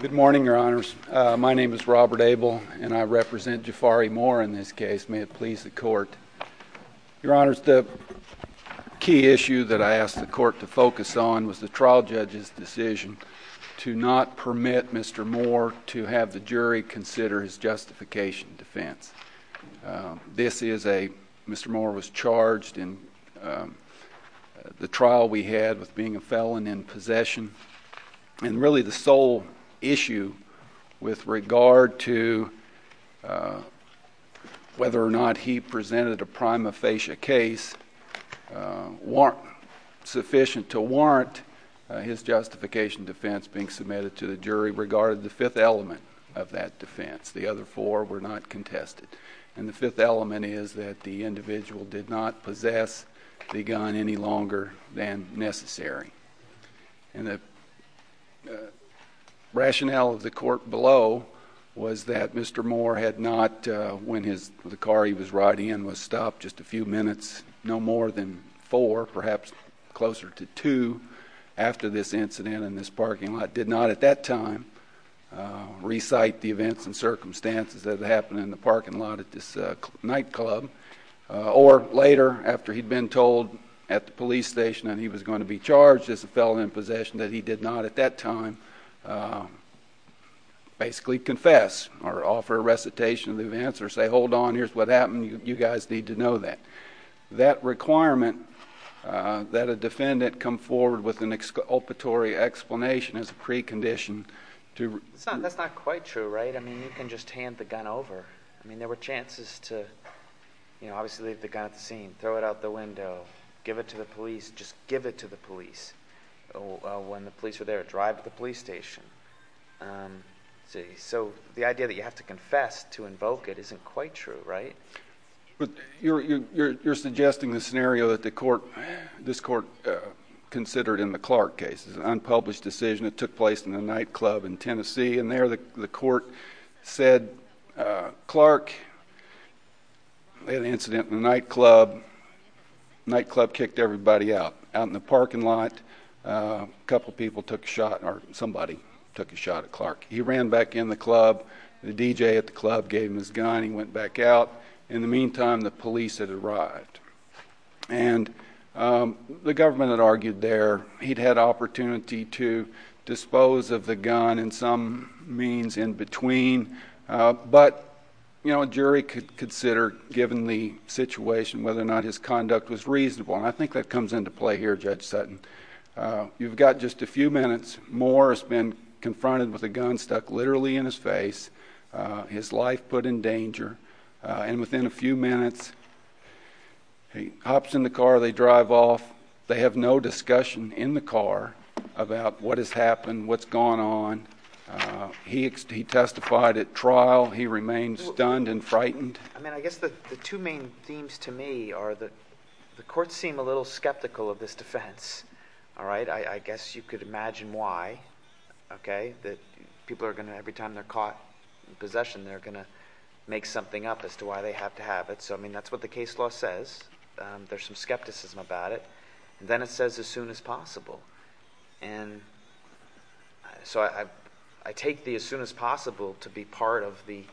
Good morning, your honors. My name is Robert Abel, and I represent Jafari Moore in this case. May it please the court. Your honors, the key issue that I asked the court to focus on was the trial judge's decision to not permit Mr. Moore to have the jury consider his justification defense. This is a, Mr. Moore was charged in the trial we had with being a felon in possession. And really, the sole issue with regard to whether or not he presented a prima facie case sufficient to warrant his justification defense being submitted to the jury regarded the fifth element of that defense. The other four were not contested. And the fifth element is that the individual did not possess the gun any longer than necessary. And the rationale of the court below was that Mr. Moore had not, when the car he was riding in was stopped just a few minutes, no more than four, perhaps closer to two, after this incident in this parking lot, did not at that time recite the events and circumstances that happened in the parking lot at this nightclub. Or later, after he'd been told at the police station that he was going to be charged as a felon in possession, that he did not at that time basically confess or offer a recitation of the events or say, hold on, here's what happened. You guys need to know that. That requirement that a defendant come forward with an exculpatory explanation is a precondition to— That's not quite true, right? I mean, you can just hand the gun over. I mean, there were chances to obviously leave the gun at the scene, throw it out the window, give it to the police, just give it to the police. When the police were there, drive to the police station. So the idea that you have to confess to invoke it isn't quite true, right? But you're suggesting the scenario that this court considered in the Clark case. It's an unpublished decision. It took place in a nightclub in Tennessee. And there the court said, Clark, they had an incident in the nightclub. The nightclub kicked everybody out. Out in the parking lot, a couple people took a shot or somebody took a shot at Clark. He ran back in the club. The DJ at the club gave him his gun. He went back out. In the meantime, the police had arrived. And the government had argued there. He'd had opportunity to dispose of the gun in some means in between. But a jury could consider, given the situation, whether or not his conduct was reasonable. And I think that comes into play here, Judge Sutton. You've got just a few minutes. Moore has been confronted with a gun stuck literally in his face, his life put in danger. And within a few minutes, he hops in the car. They drive off. They have no discussion in the car about what has happened, what's gone on. He testified at trial. He remained stunned and frightened. I mean, I guess the two main themes to me are that the courts seem a little skeptical of this defense. All right? I guess you could imagine why, OK? That people are going to, every time they're caught in possession, they're going to make something up as to why they have to have it. So, I mean, that's what the case law says. There's some skepticism about it. And then it says, as soon as possible. And so I take the as soon as possible to be part of the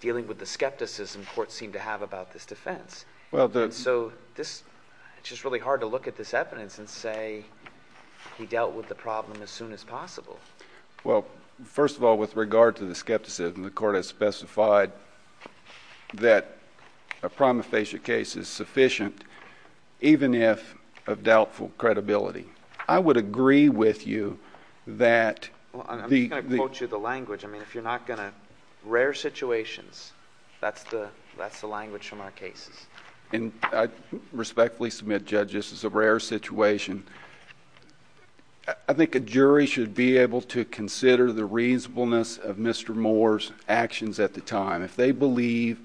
dealing with the skepticism courts seem to have about this defense. So it's just really hard to look at this evidence and say he dealt with the problem as soon as possible. Well, first of all, with regard to the skepticism, the court has specified that a traumaphagia case is sufficient, even if of doubtful credibility. I would agree with you that the- Well, I'm just going to quote you the language. I mean, if you're not going to, rare situations, that's the language from our cases. And I respectfully submit, Judge, this is a rare situation. I think a jury should be able to consider the reasonableness of Mr. Moore's actions at the time. If they believe,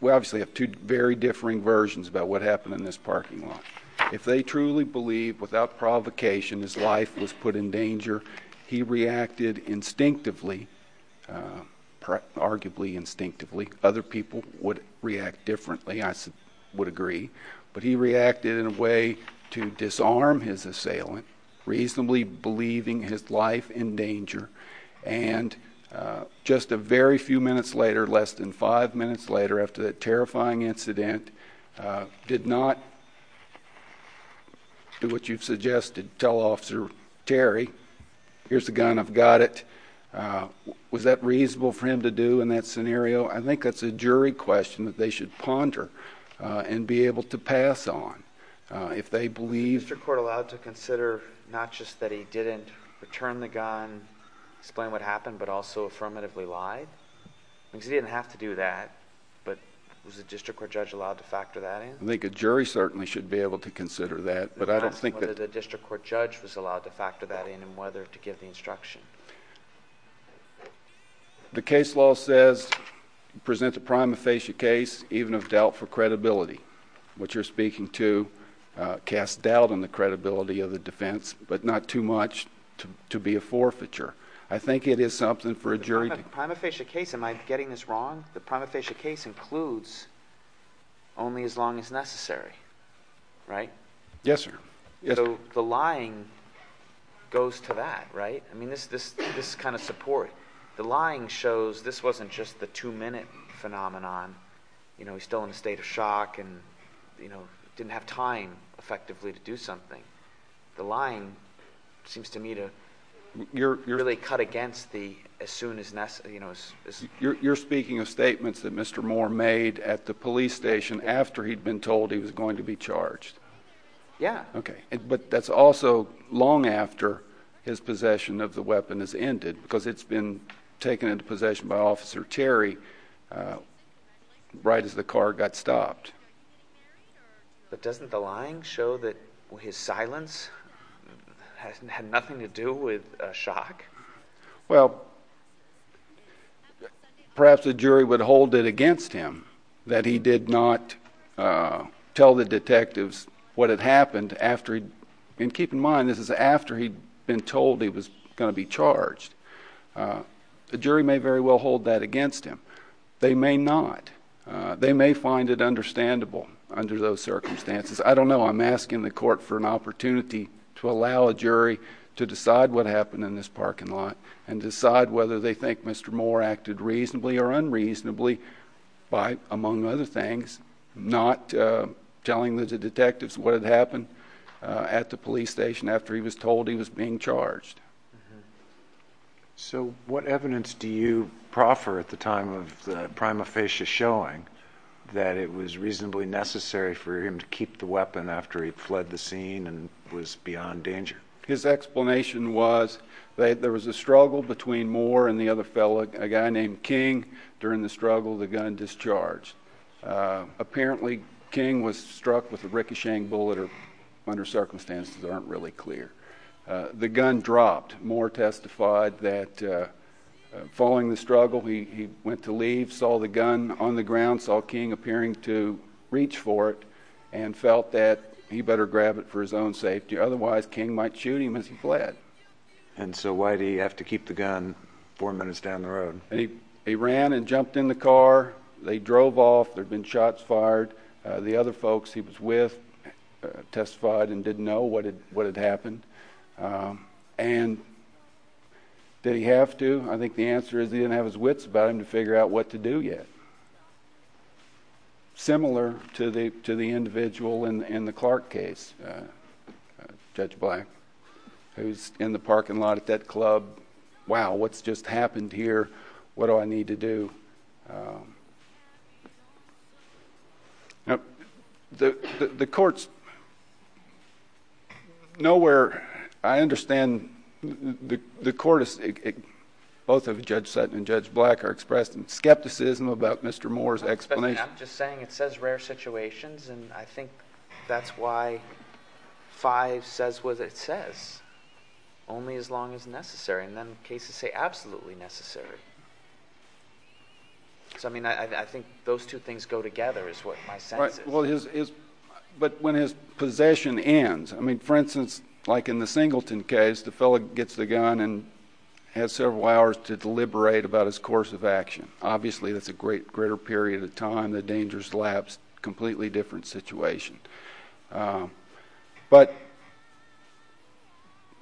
we obviously have two very differing versions about what happened in this parking lot. If they truly believe, without provocation, his life was put in danger, he reacted instinctively, arguably instinctively. Other people would react differently, I would agree. But he reacted in a way to disarm his assailant, reasonably believing his life in danger. And just a very few minutes later, less than five minutes later, after that terrifying incident, did not do what you've suggested. Tell Officer Terry, here's the gun, I've got it. Was that reasonable for him to do in that scenario? I think that's a jury question that they should ponder and be able to pass on. If they believe- Explain what happened, but also affirmatively lied? Because he didn't have to do that, but was the district court judge allowed to factor that in? I think a jury certainly should be able to consider that, but I don't think- I'm asking whether the district court judge was allowed to factor that in and whether to give the instruction. The case law says, present a prima facie case, even if dealt for credibility. What you're speaking to casts doubt on the credibility of the defense, but not too much to be a forfeiture. I think it is something for a jury to- Prima facie case, am I getting this wrong? The prima facie case includes only as long as necessary, right? Yes, sir. So the lying goes to that, right? I mean, this kind of support. The lying shows this wasn't just the two minute phenomenon. He's still in a state of shock and didn't have time, effectively, to do something. The lying seems to me to really cut against the as soon as necessary. You're speaking of statements that Mr. Moore made at the police station after he'd been told he was going to be charged. Yeah. Okay. But that's also long after his possession of the weapon has ended, because it's been taken into possession by Officer Terry right as the car got stopped. But doesn't the lying show that his silence had nothing to do with shock? Well, perhaps the jury would hold it against him that he did not tell the detectives what had happened after he'd- and keep in mind, this is after he'd been told he was going to be charged. The jury may very well hold that against him. They may not. Under those circumstances. I don't know. I'm asking the court for an opportunity to allow a jury to decide what happened in this parking lot and decide whether they think Mr. Moore acted reasonably or unreasonably by, among other things, not telling the detectives what had happened at the police station after he was told he was being charged. So what evidence do you proffer at the time of the prima facie showing that it was reasonably necessary for him to keep the weapon after he'd fled the scene and was beyond danger? His explanation was that there was a struggle between Moore and the other fellow, a guy named King. During the struggle, the gun discharged. Apparently, King was struck with a ricocheting bullet, or under circumstances that aren't really clear. The gun dropped. Moore testified that following the struggle, he went to leave, saw the gun on the ground, saw King appearing to reach for it, and felt that he better grab it for his own safety. Otherwise, King might shoot him as he fled. And so why did he have to keep the gun four minutes down the road? He ran and jumped in the car. They drove off. There'd been shots fired. The other folks he was with testified and didn't know what had happened. And did he have to? I think the answer is he didn't have his wits about him to figure out what to do yet. Similar to the individual in the Clark case, Judge Black, who's in the parking lot at that club. Wow, what's just happened here? What do I need to do? Now, the court's nowhere—I understand the court—both of Judge Sutton and Judge Black are expressed in skepticism about Mr. Moore's explanation. I'm just saying it says rare situations. And I think that's why 5 says what it says, only as long as necessary. And then cases say absolutely necessary. So, I mean, I think those two things go together is what my sense is. But when his possession ends—I mean, for instance, like in the Singleton case, the fellow gets the gun and has several hours to deliberate about his course of action. Obviously, that's a greater period of time. The danger's lapsed. Completely different situation. But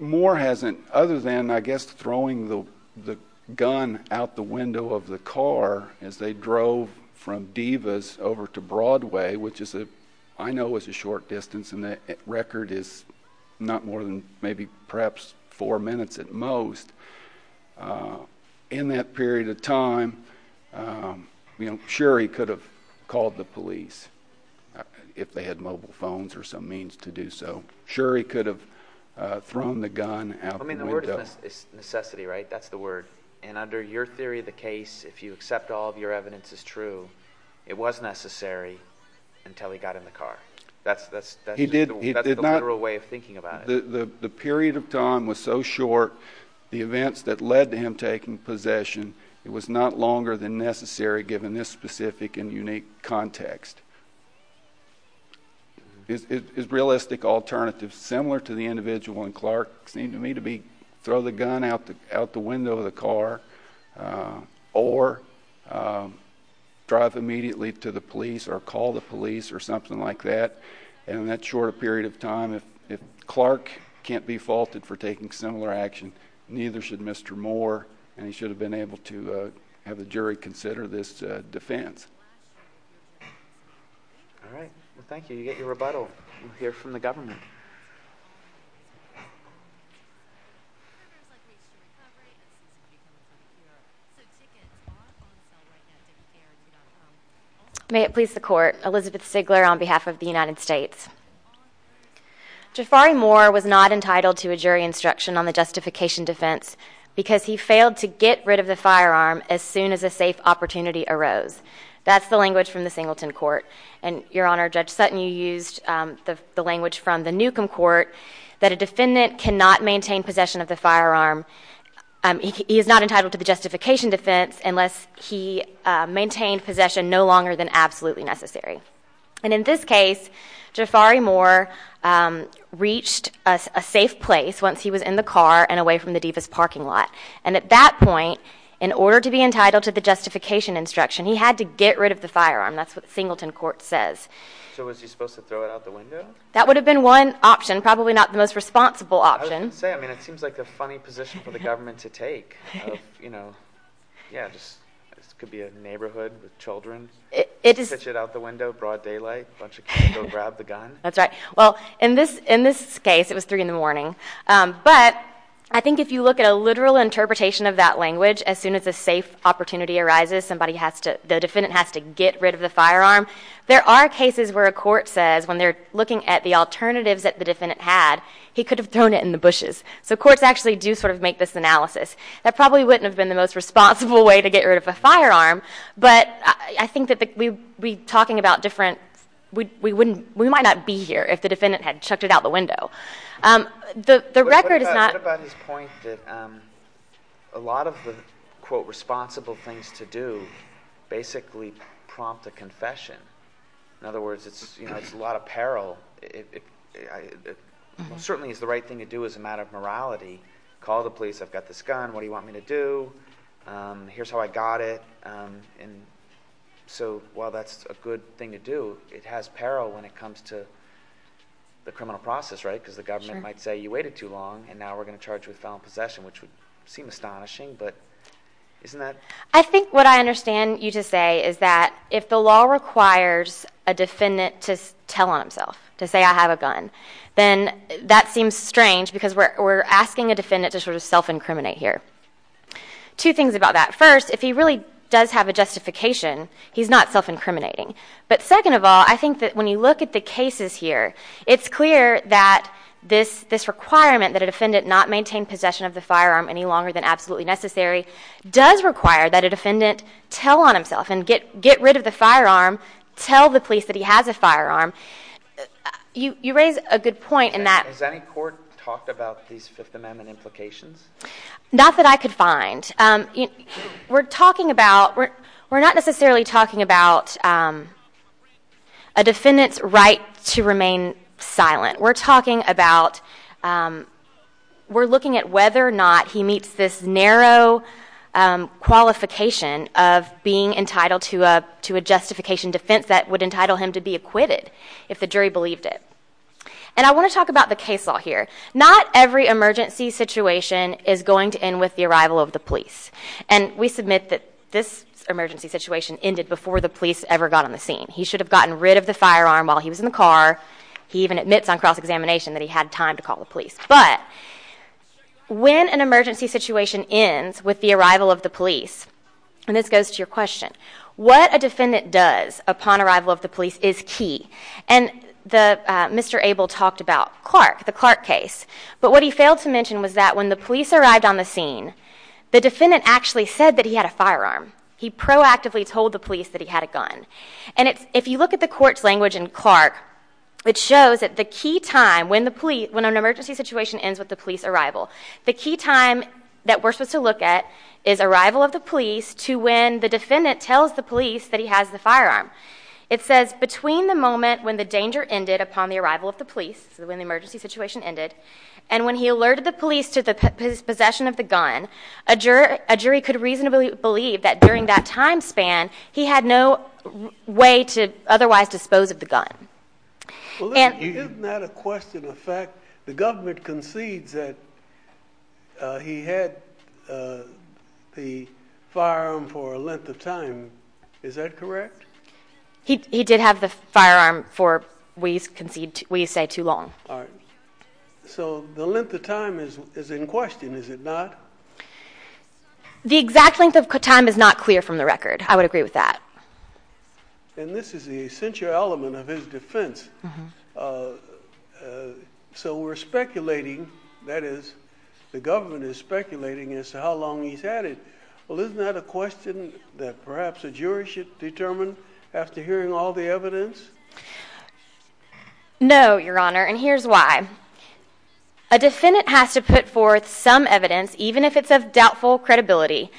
Moore hasn't—other than, I guess, throwing the gun out the window of the car as they drove from Divas over to Broadway, which I know is a short distance, and the record is not more than maybe perhaps four minutes at most. In that period of time, sure, he could have called the police if they had mobile phones or some means to do so. Sure, he could have thrown the gun out the window. I mean, the word is necessity, right? That's the word. And under your theory of the case, if you accept all of your evidence is true, it was necessary until he got in the car. That's the literal way of thinking about it. The period of time was so short, the events that led to him taking possession, it was not longer than necessary, given this specific and unique context. Is realistic alternative similar to the individual in Clark? Seemed to me to be throw the gun out the window of the car or drive immediately to the police or call the police or something like that. And in that short period of time, if Clark can't be faulted for taking similar action, neither should Mr. Moore. And he should have been able to have the jury consider this defense. All right, well, thank you. You get your rebuttal here from the government. May it please the court. Elizabeth Stigler on behalf of the United States. Jafari Moore was not entitled to a jury instruction on the justification defense because he failed to get rid of the firearm as soon as a safe opportunity arose. That's the language from the Singleton court. And Your Honor, Judge Sutton, you used the language from the Newcomb court that a defendant cannot maintain possession of the firearm. He is not entitled to the justification defense unless he maintained possession no longer than absolutely necessary. And in this case, Jafari Moore reached a safe place once he was in the car and away from the deepest parking lot. And at that point, in order to be entitled to the justification instruction, he had to get rid of the firearm. That's what the Singleton court says. So was he supposed to throw it out the window? That would have been one option, probably not the most responsible option. I was going to say, I mean, it seems like a funny position for the government to take. You know, yeah, this could be a neighborhood with children, pitch it out the window, broad daylight, bunch of kids go grab the gun. That's right. Well, in this case, it was 3 in the morning. But I think if you look at a literal interpretation of that language, as soon as a safe opportunity arises, the defendant has to get rid of the firearm. There are cases where a court says, when they're looking at the alternatives that the defendant had, he could have thrown it in the bushes. So courts actually do sort of make this analysis. That probably wouldn't have been the most responsible way to get rid of a firearm. But I think that we might not be here if the defendant had chucked it out the window. The record is not— to do—basically prompt a confession. In other words, it's a lot of peril. Certainly it's the right thing to do as a matter of morality. Call the police. I've got this gun. What do you want me to do? Here's how I got it. And so while that's a good thing to do, it has peril when it comes to the criminal process, right? Because the government might say you waited too long, and now we're going to charge you with felon possession, which would seem astonishing. But isn't that— I think what I understand you to say is that if the law requires a defendant to tell on himself, to say I have a gun, then that seems strange because we're asking a defendant to sort of self-incriminate here. Two things about that. First, if he really does have a justification, he's not self-incriminating. But second of all, I think that when you look at the cases here, it's clear that this requirement that a defendant not maintain possession of the firearm any longer than absolutely necessary does require that a defendant tell on himself and get rid of the firearm, tell the police that he has a firearm. You raise a good point in that— Has any court talked about these Fifth Amendment implications? Not that I could find. We're talking about—we're not necessarily talking about a defendant's right to remain silent. We're talking about—we're looking at whether or not he meets this narrow qualification of being entitled to a justification defense that would entitle him to be acquitted if the jury believed it. And I want to talk about the case law here. Not every emergency situation is going to end with the arrival of the police. And we submit that this emergency situation ended before the police ever got on the scene. He should have gotten rid of the firearm while he was in the car. He even admits on cross-examination that he had time to call the police. But when an emergency situation ends with the arrival of the police—and this goes to your question—what a defendant does upon arrival of the police is key. And Mr. Abel talked about Clark, the Clark case. But what he failed to mention was that when the police arrived on the scene, the defendant actually said that he had a firearm. He proactively told the police that he had a gun. And if you look at the court's language in Clark, it shows that the key time when an emergency situation ends with the police arrival, the key time that we're supposed to look at is arrival of the police to when the defendant tells the police that he has the firearm. It says between the moment when the danger ended upon the arrival of the police, when the emergency situation ended, and when he alerted the police to his possession of the way to otherwise dispose of the gun. Well, isn't that a question of fact? The government concedes that he had the firearm for a length of time. Is that correct? He did have the firearm for, we say, too long. So the length of time is in question, is it not? The exact length of time is not clear from the record. I would agree with that. And this is the essential element of his defense. So we're speculating, that is, the government is speculating as to how long he's had it. Well, isn't that a question that perhaps a jury should determine after hearing all the evidence? No, Your Honor, and here's why. A defendant has to put forth some evidence, even if it's of doubtful credibility,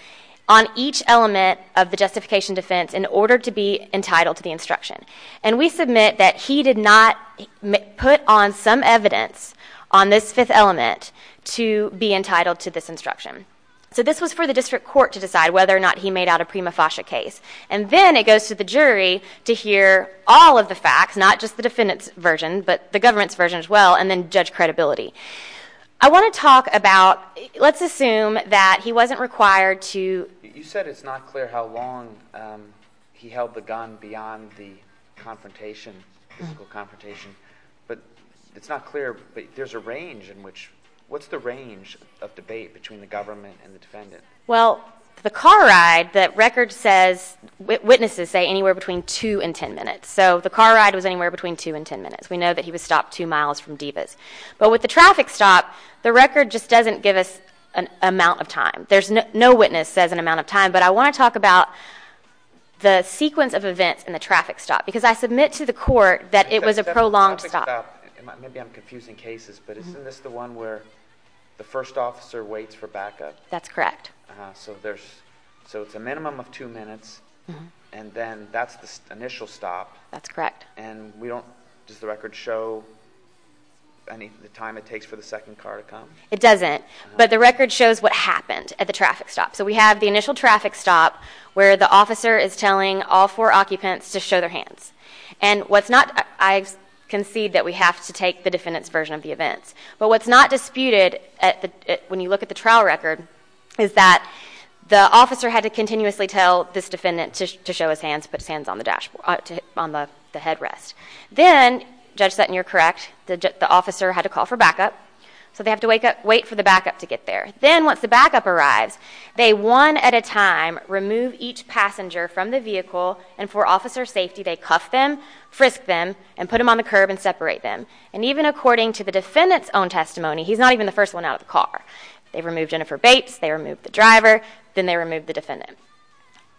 on each element of the justification defense in order to be entitled to the instruction. And we submit that he did not put on some evidence on this fifth element to be entitled to this instruction. So this was for the district court to decide whether or not he made out a prima facie case. And then it goes to the jury to hear all of the facts, not just the defendant's version, but the government's version as well, and then judge credibility. I want to talk about, let's assume that he wasn't required to. You said it's not clear how long he held the gun beyond the confrontation, physical confrontation. But it's not clear, but there's a range in which, what's the range of debate between the government and the defendant? Well, the car ride, the record says, witnesses say anywhere between two and ten minutes. So the car ride was anywhere between two and ten minutes. We know that he was stopped two miles from Divas. But with the traffic stop, the record just doesn't give us an amount of time. There's no witness says an amount of time. But I want to talk about the sequence of events in the traffic stop. Because I submit to the court that it was a prolonged stop. Maybe I'm confusing cases, but isn't this the one where the first officer waits for backup? That's correct. So there's, so it's a minimum of two minutes. And then that's the initial stop. That's correct. And we don't, does the record show the time it takes for the second car to come? It doesn't. But the record shows what happened at the traffic stop. So we have the initial traffic stop where the officer is telling all four occupants to show their hands. And what's not, I concede that we have to take the defendant's version of the events. But what's not disputed at the, when you look at the trial record, is that the officer had to continuously tell this defendant to show his hands, put his hands on the dashboard, on the headrest. Then, judge Sutton, you're correct, the officer had to call for backup. So they have to wake up, wait for the backup to get there. Then once the backup arrives, they one at a time remove each passenger from the vehicle. And for officer safety, they cuff them, frisk them, and put them on the curb and separate them. And even according to the defendant's own testimony, he's not even the first one out of the car. They remove Jennifer Bates, they remove the driver, then they remove the defendant.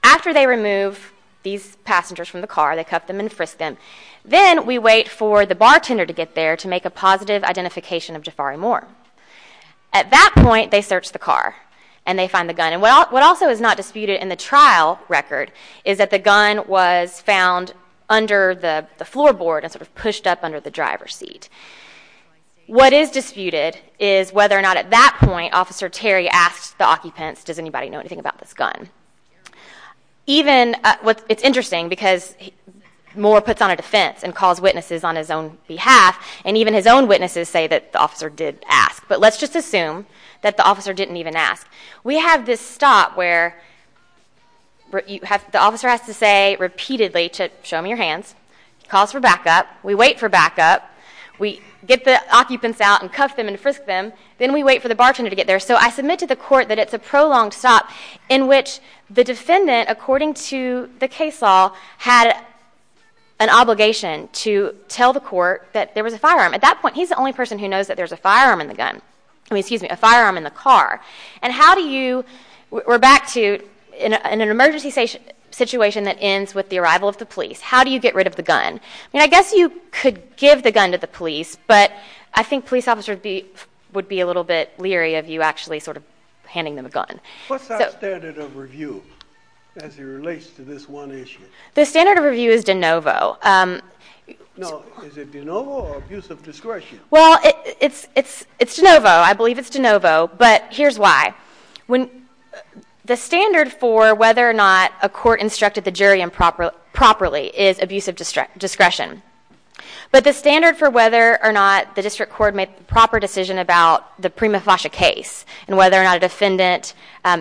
After they remove these passengers from the car, they cuff them and frisk them. Then we wait for the bartender to get there to make a positive identification of Jafari Moore. At that point, they search the car and they find the gun. And what also is not disputed in the trial record is that the gun was found under the floorboard and sort of pushed up under the driver's seat. What is disputed is whether or not at that point, officer Terry asked the occupants, does anybody know anything about this gun? It's interesting because Moore puts on a defense and calls witnesses on his own behalf. And even his own witnesses say that the officer did ask. But let's just assume that the officer didn't even ask. We have this stop where the officer has to say repeatedly to show me your hands. Calls for backup. We wait for backup. We get the occupants out and cuff them and frisk them. Then we wait for the bartender to get there. So I submit to the court that it's a prolonged stop in which the defendant, according to the case law, had an obligation to tell the court that there was a firearm. At that point, he's the only person who knows that there's a firearm in the gun. I mean, excuse me, a firearm in the car. And how do you, we're back to an emergency situation that ends with the arrival of the police. How do you get rid of the gun? And I guess you could give the gun to the police. But I think police officers would be a little bit leery of you actually sort of handing them a gun. What's that standard of review as it relates to this one issue? The standard of review is de novo. No, is it de novo or abuse of discretion? Well, it's de novo. I believe it's de novo. But here's why. The standard for whether or not a court instructed the jury improperly is abuse of discretion. But the standard for whether or not the district court made the proper decision about the Prima Fascia case and whether or not a defendant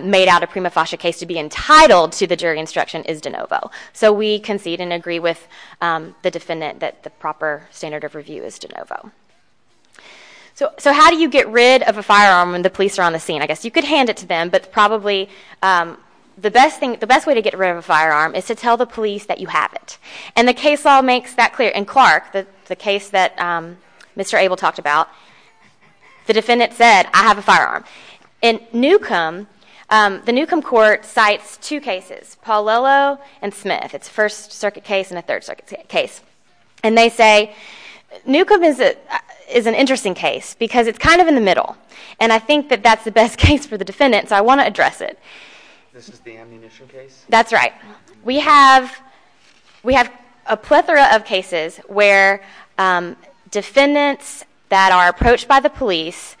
made out a Prima Fascia case to be entitled to the jury instruction is de novo. So we concede and agree with the defendant that the proper standard of review is de novo. So how do you get rid of a firearm when the police are on the scene? I guess you could hand it to them. But probably the best thing, the best way to get rid of a firearm is to tell the police that you have it. And the case law makes that clear. In Clark, the case that Mr. Abel talked about, the defendant said, I have a firearm. In Newcomb, the Newcomb court cites two cases, Pauliello and Smith. It's a First Circuit case and a Third Circuit case. And they say, Newcomb is an interesting case because it's kind of in the middle. And I think that that's the best case for the defendant. So I want to address it. This is the ammunition case? That's right. We have a plethora of cases where defendants that are approached by the police,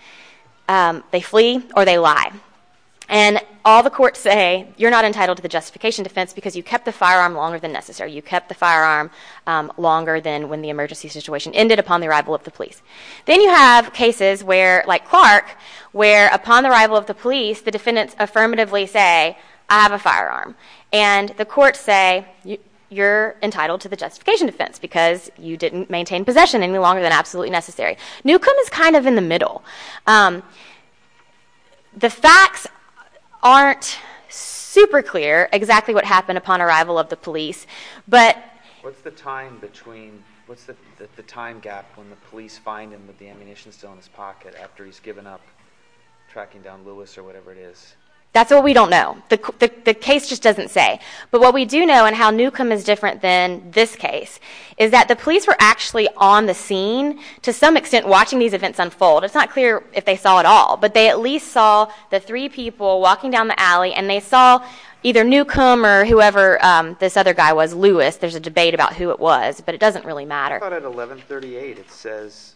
they flee or they lie. And all the courts say, you're not entitled to the justification defense because you kept the firearm longer than necessary. You kept the firearm longer than when the emergency situation ended upon the arrival of the police. Then you have cases where, like Clark, where upon the arrival of the police, the defendants affirmatively say, I have a firearm. And the courts say, you're entitled to the justification defense because you didn't maintain possession any longer than absolutely necessary. Newcomb is kind of in the middle. The facts aren't super clear exactly what happened upon arrival of the police. But what's the time gap when the police find him with the ammunition still in his pocket after he's given up tracking down Lewis or whatever it is? That's what we don't know. The case just doesn't say. But what we do know and how Newcomb is different than this case is that the police were actually on the scene to some extent watching these events unfold. It's not clear if they saw it all. But they at least saw the three people walking down the alley. And they saw either Newcomb or whoever this other guy was, Lewis. There's a debate about who it was. But it doesn't really matter. I thought at 1138 it says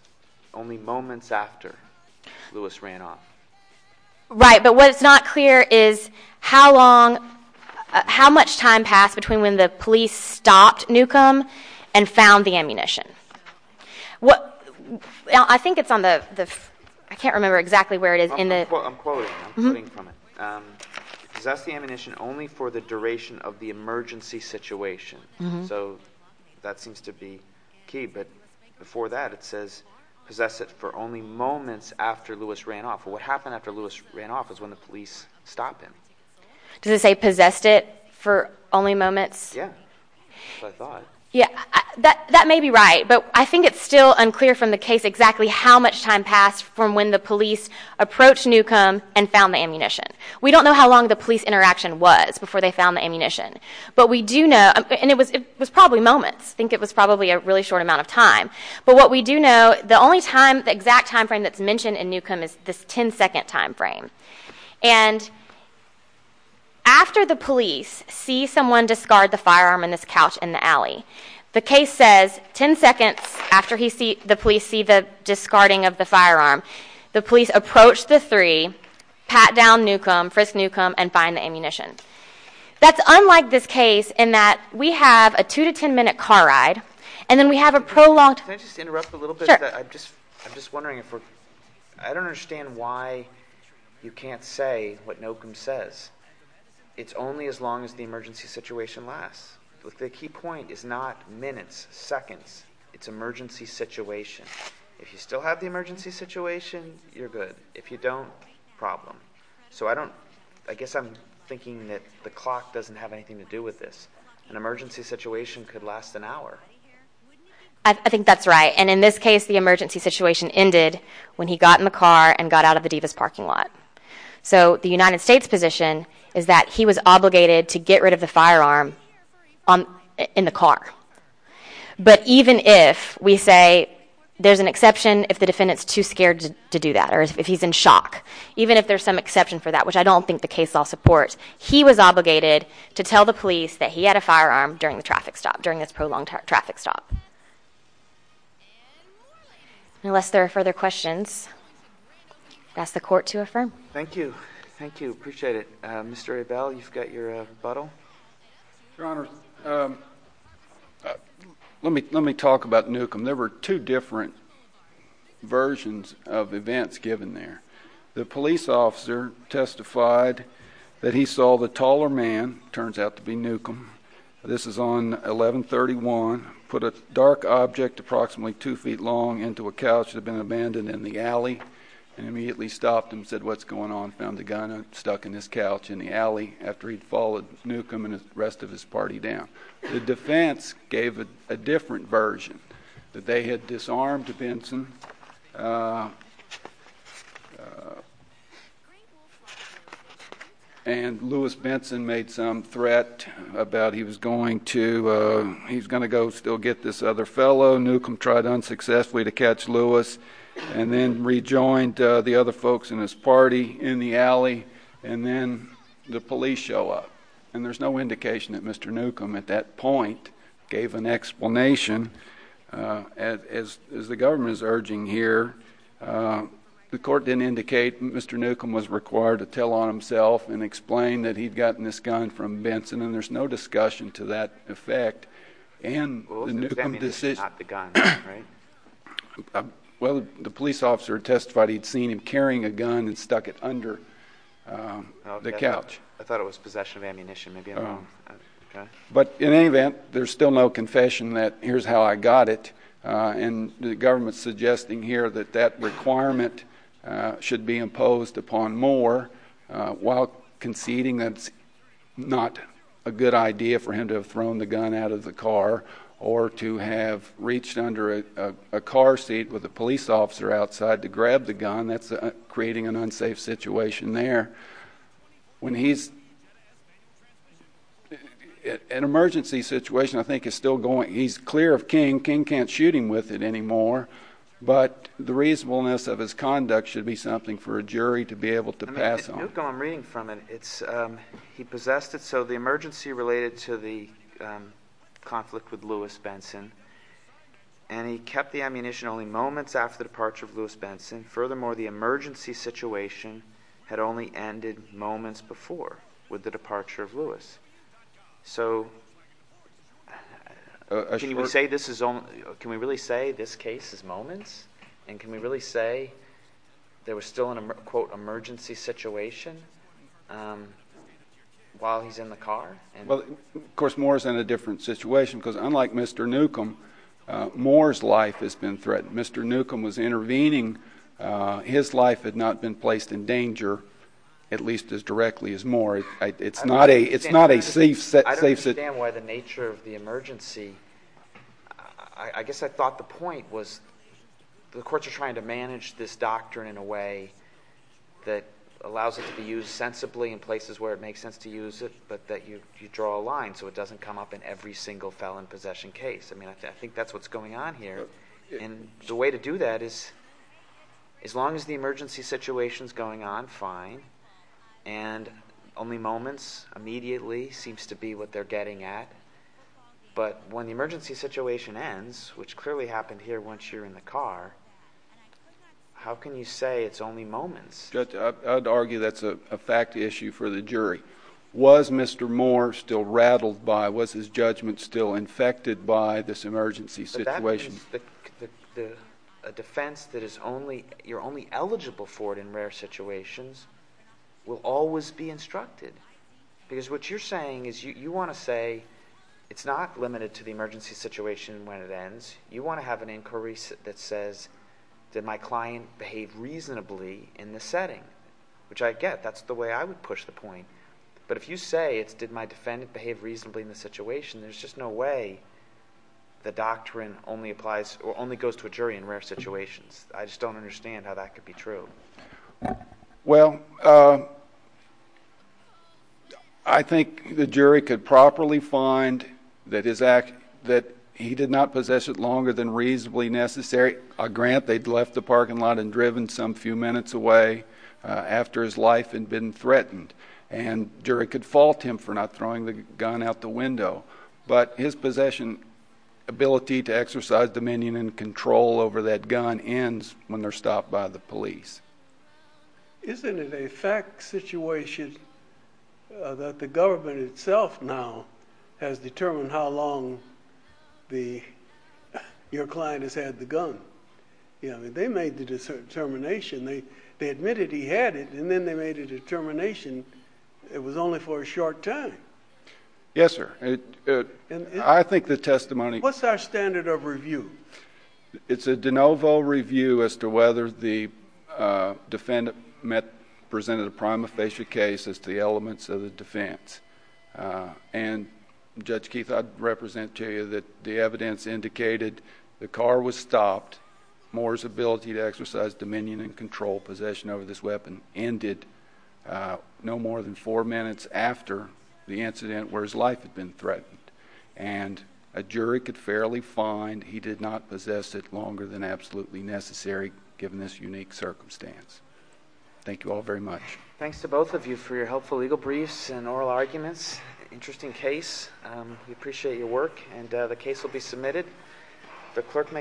only moments after Lewis ran off. Right. But what's not clear is how long, how much time passed between when the police stopped Newcomb and found the ammunition. I think it's on the, I can't remember exactly where it is. I'm quoting from it. Possess the ammunition only for the duration of the emergency situation. So that seems to be key. But before that, it says possess it for only moments after Lewis ran off. What happened after Lewis ran off is when the police stopped him. Does it say possessed it for only moments? Yeah, I thought. Yeah, that may be right. But I think it's still unclear from the case exactly how much time passed from when the police approached Newcomb and found the ammunition. We don't know how long the police interaction was before they found the ammunition. But we do know, and it was probably moments. I think it was probably a really short amount of time. But what we do know, the only time, the exact time frame that's mentioned in Newcomb is this 10 second time frame. And after the police see someone discard the firearm in this couch in the alley, the case says 10 seconds after the police see the discarding of the firearm, the police approach the three, pat down Newcomb, frisk Newcomb, and find the ammunition. That's unlike this case in that we have a two to 10 minute car ride. And then we have a prolonged- Can I just interrupt a little bit? Sure. I'm just wondering, I don't understand why you can't say what Newcomb says. It's only as long as the emergency situation lasts. The key point is not minutes, seconds. It's emergency situation. If you still have the emergency situation, you're good. If you don't, problem. So I guess I'm thinking that the clock doesn't have anything to do with this. An emergency situation could last an hour. I think that's right. And in this case, the emergency situation ended when he got in the car and got out of the Divas parking lot. So the United States position is that he was obligated to get rid of the firearm in the car. But even if we say there's an exception if the defendant's too scared to do that, or if he's in shock, even if there's some exception for that, which I don't think the case law supports, he was obligated to tell the police that he had a firearm during the traffic stop, during this prolonged traffic stop. Unless there are further questions, I'll ask the court to affirm. Thank you. Thank you. Appreciate it. Mr. Abel, you've got your rebuttal. Your Honor, let me talk about Newcomb. There were two different versions of events given there. The police officer testified that he saw the taller man, turns out to be Newcomb, this is on 1131, put a dark object approximately two feet long into a couch that had been abandoned in the alley, and immediately stopped and said, what's going on? Found the gun stuck in his couch in the alley after he'd followed Newcomb and the rest of his party down. The defense gave a different version, that they had disarmed Benson. And Louis Benson made some threat about he was going to, he's going to go still get this other fellow, Newcomb tried unsuccessfully to catch Louis, and then rejoined the other folks in his party in the alley, and then the police show up. And there's no indication that Mr. Newcomb at that point gave an explanation, as the government is urging here. The court didn't indicate Mr. Newcomb was required to tell on himself and explain that he'd gotten this gun from Benson, and there's no discussion to that effect. And the Newcomb decision. Well, it was because ammunition caught the gun, right? Well, the police officer testified he'd seen him carrying a gun and stuck it under the couch. I thought it was possession of ammunition, maybe I'm wrong. But in any event, there's still no confession that here's how I got it. And the government's suggesting here that that requirement should be imposed upon Moore while conceding that's not a good idea for him to have thrown the gun out of the car, or to have reached under a car seat with a police officer outside to grab the gun. That's creating an unsafe situation there. When he's, an emergency situation, I think, is still going. He's clear of King. King can't shoot him with it anymore. But the reasonableness of his conduct should be something for a jury to be able to pass on. I mean, Newcomb, I'm reading from it. It's, he possessed it. So the emergency related to the conflict with Lewis Benson, and he kept the ammunition only moments after the departure of Lewis Benson. Furthermore, the emergency situation had only ended moments before with the departure of Lewis. So can you say this is only, can we really say this case is moments? And can we really say there was still an emergency situation while he's in the car? Well, of course, Moore is in a different situation because unlike Mr. Newcomb, Moore's life has been threatened. Mr. Newcomb was intervening. His life had not been placed in danger, at least as directly as Moore. It's not a safe situation. I don't understand why the nature of the emergency, I guess I thought the point was the courts are trying to manage this doctrine in a way that allows it to be used sensibly in places where it makes sense to use it, but that you draw a line so it doesn't come up in every single felon possession case. I mean, I think that's what's going on here. And the way to do that is as long as the emergency situation's going on, fine. And only moments immediately seems to be what they're getting at. But when the emergency situation ends, which clearly happened here once you're in the car, how can you say it's only moments? I'd argue that's a fact issue for the jury. Was Mr. Moore still rattled by, was his judgment still infected by this emergency situation? The defense that you're only eligible for it in rare situations will always be instructed. Because what you're saying is you want to say it's not limited to the emergency situation when it ends. You want to have an inquiry that says, did my client behave reasonably in this setting? Which I get, that's the way I would push the point. But if you say it's did my defendant behave reasonably in this situation, there's just no way the doctrine only applies, or only goes to a jury in rare situations. I just don't understand how that could be true. Well, I think the jury could properly find that his act, that he did not possess it longer than reasonably necessary. A grant, they'd left the parking lot and driven some few minutes away after his life had been threatened. But his possession, ability to exercise dominion and control over that gun ends when they're stopped by the police. Isn't it a fact situation that the government itself now has determined how long your client has had the gun? They made the determination, they admitted he had it, and then they made a determination it was only for a short time. Yes, sir. I think the testimony- What's our standard of review? It's a de novo review as to whether the defendant presented a prima facie case as to the elements of the defense. And Judge Keith, I'd represent to you that the evidence indicated the car was stopped, Moore's ability to exercise dominion and control possession over this weapon ended at no more than four minutes after the incident where his life had been threatened. And a jury could fairly find he did not possess it longer than absolutely necessary given this unique circumstance. Thank you all very much. Thanks to both of you for your helpful legal briefs and oral arguments. Interesting case. We appreciate your work and the case will be submitted. The clerk may-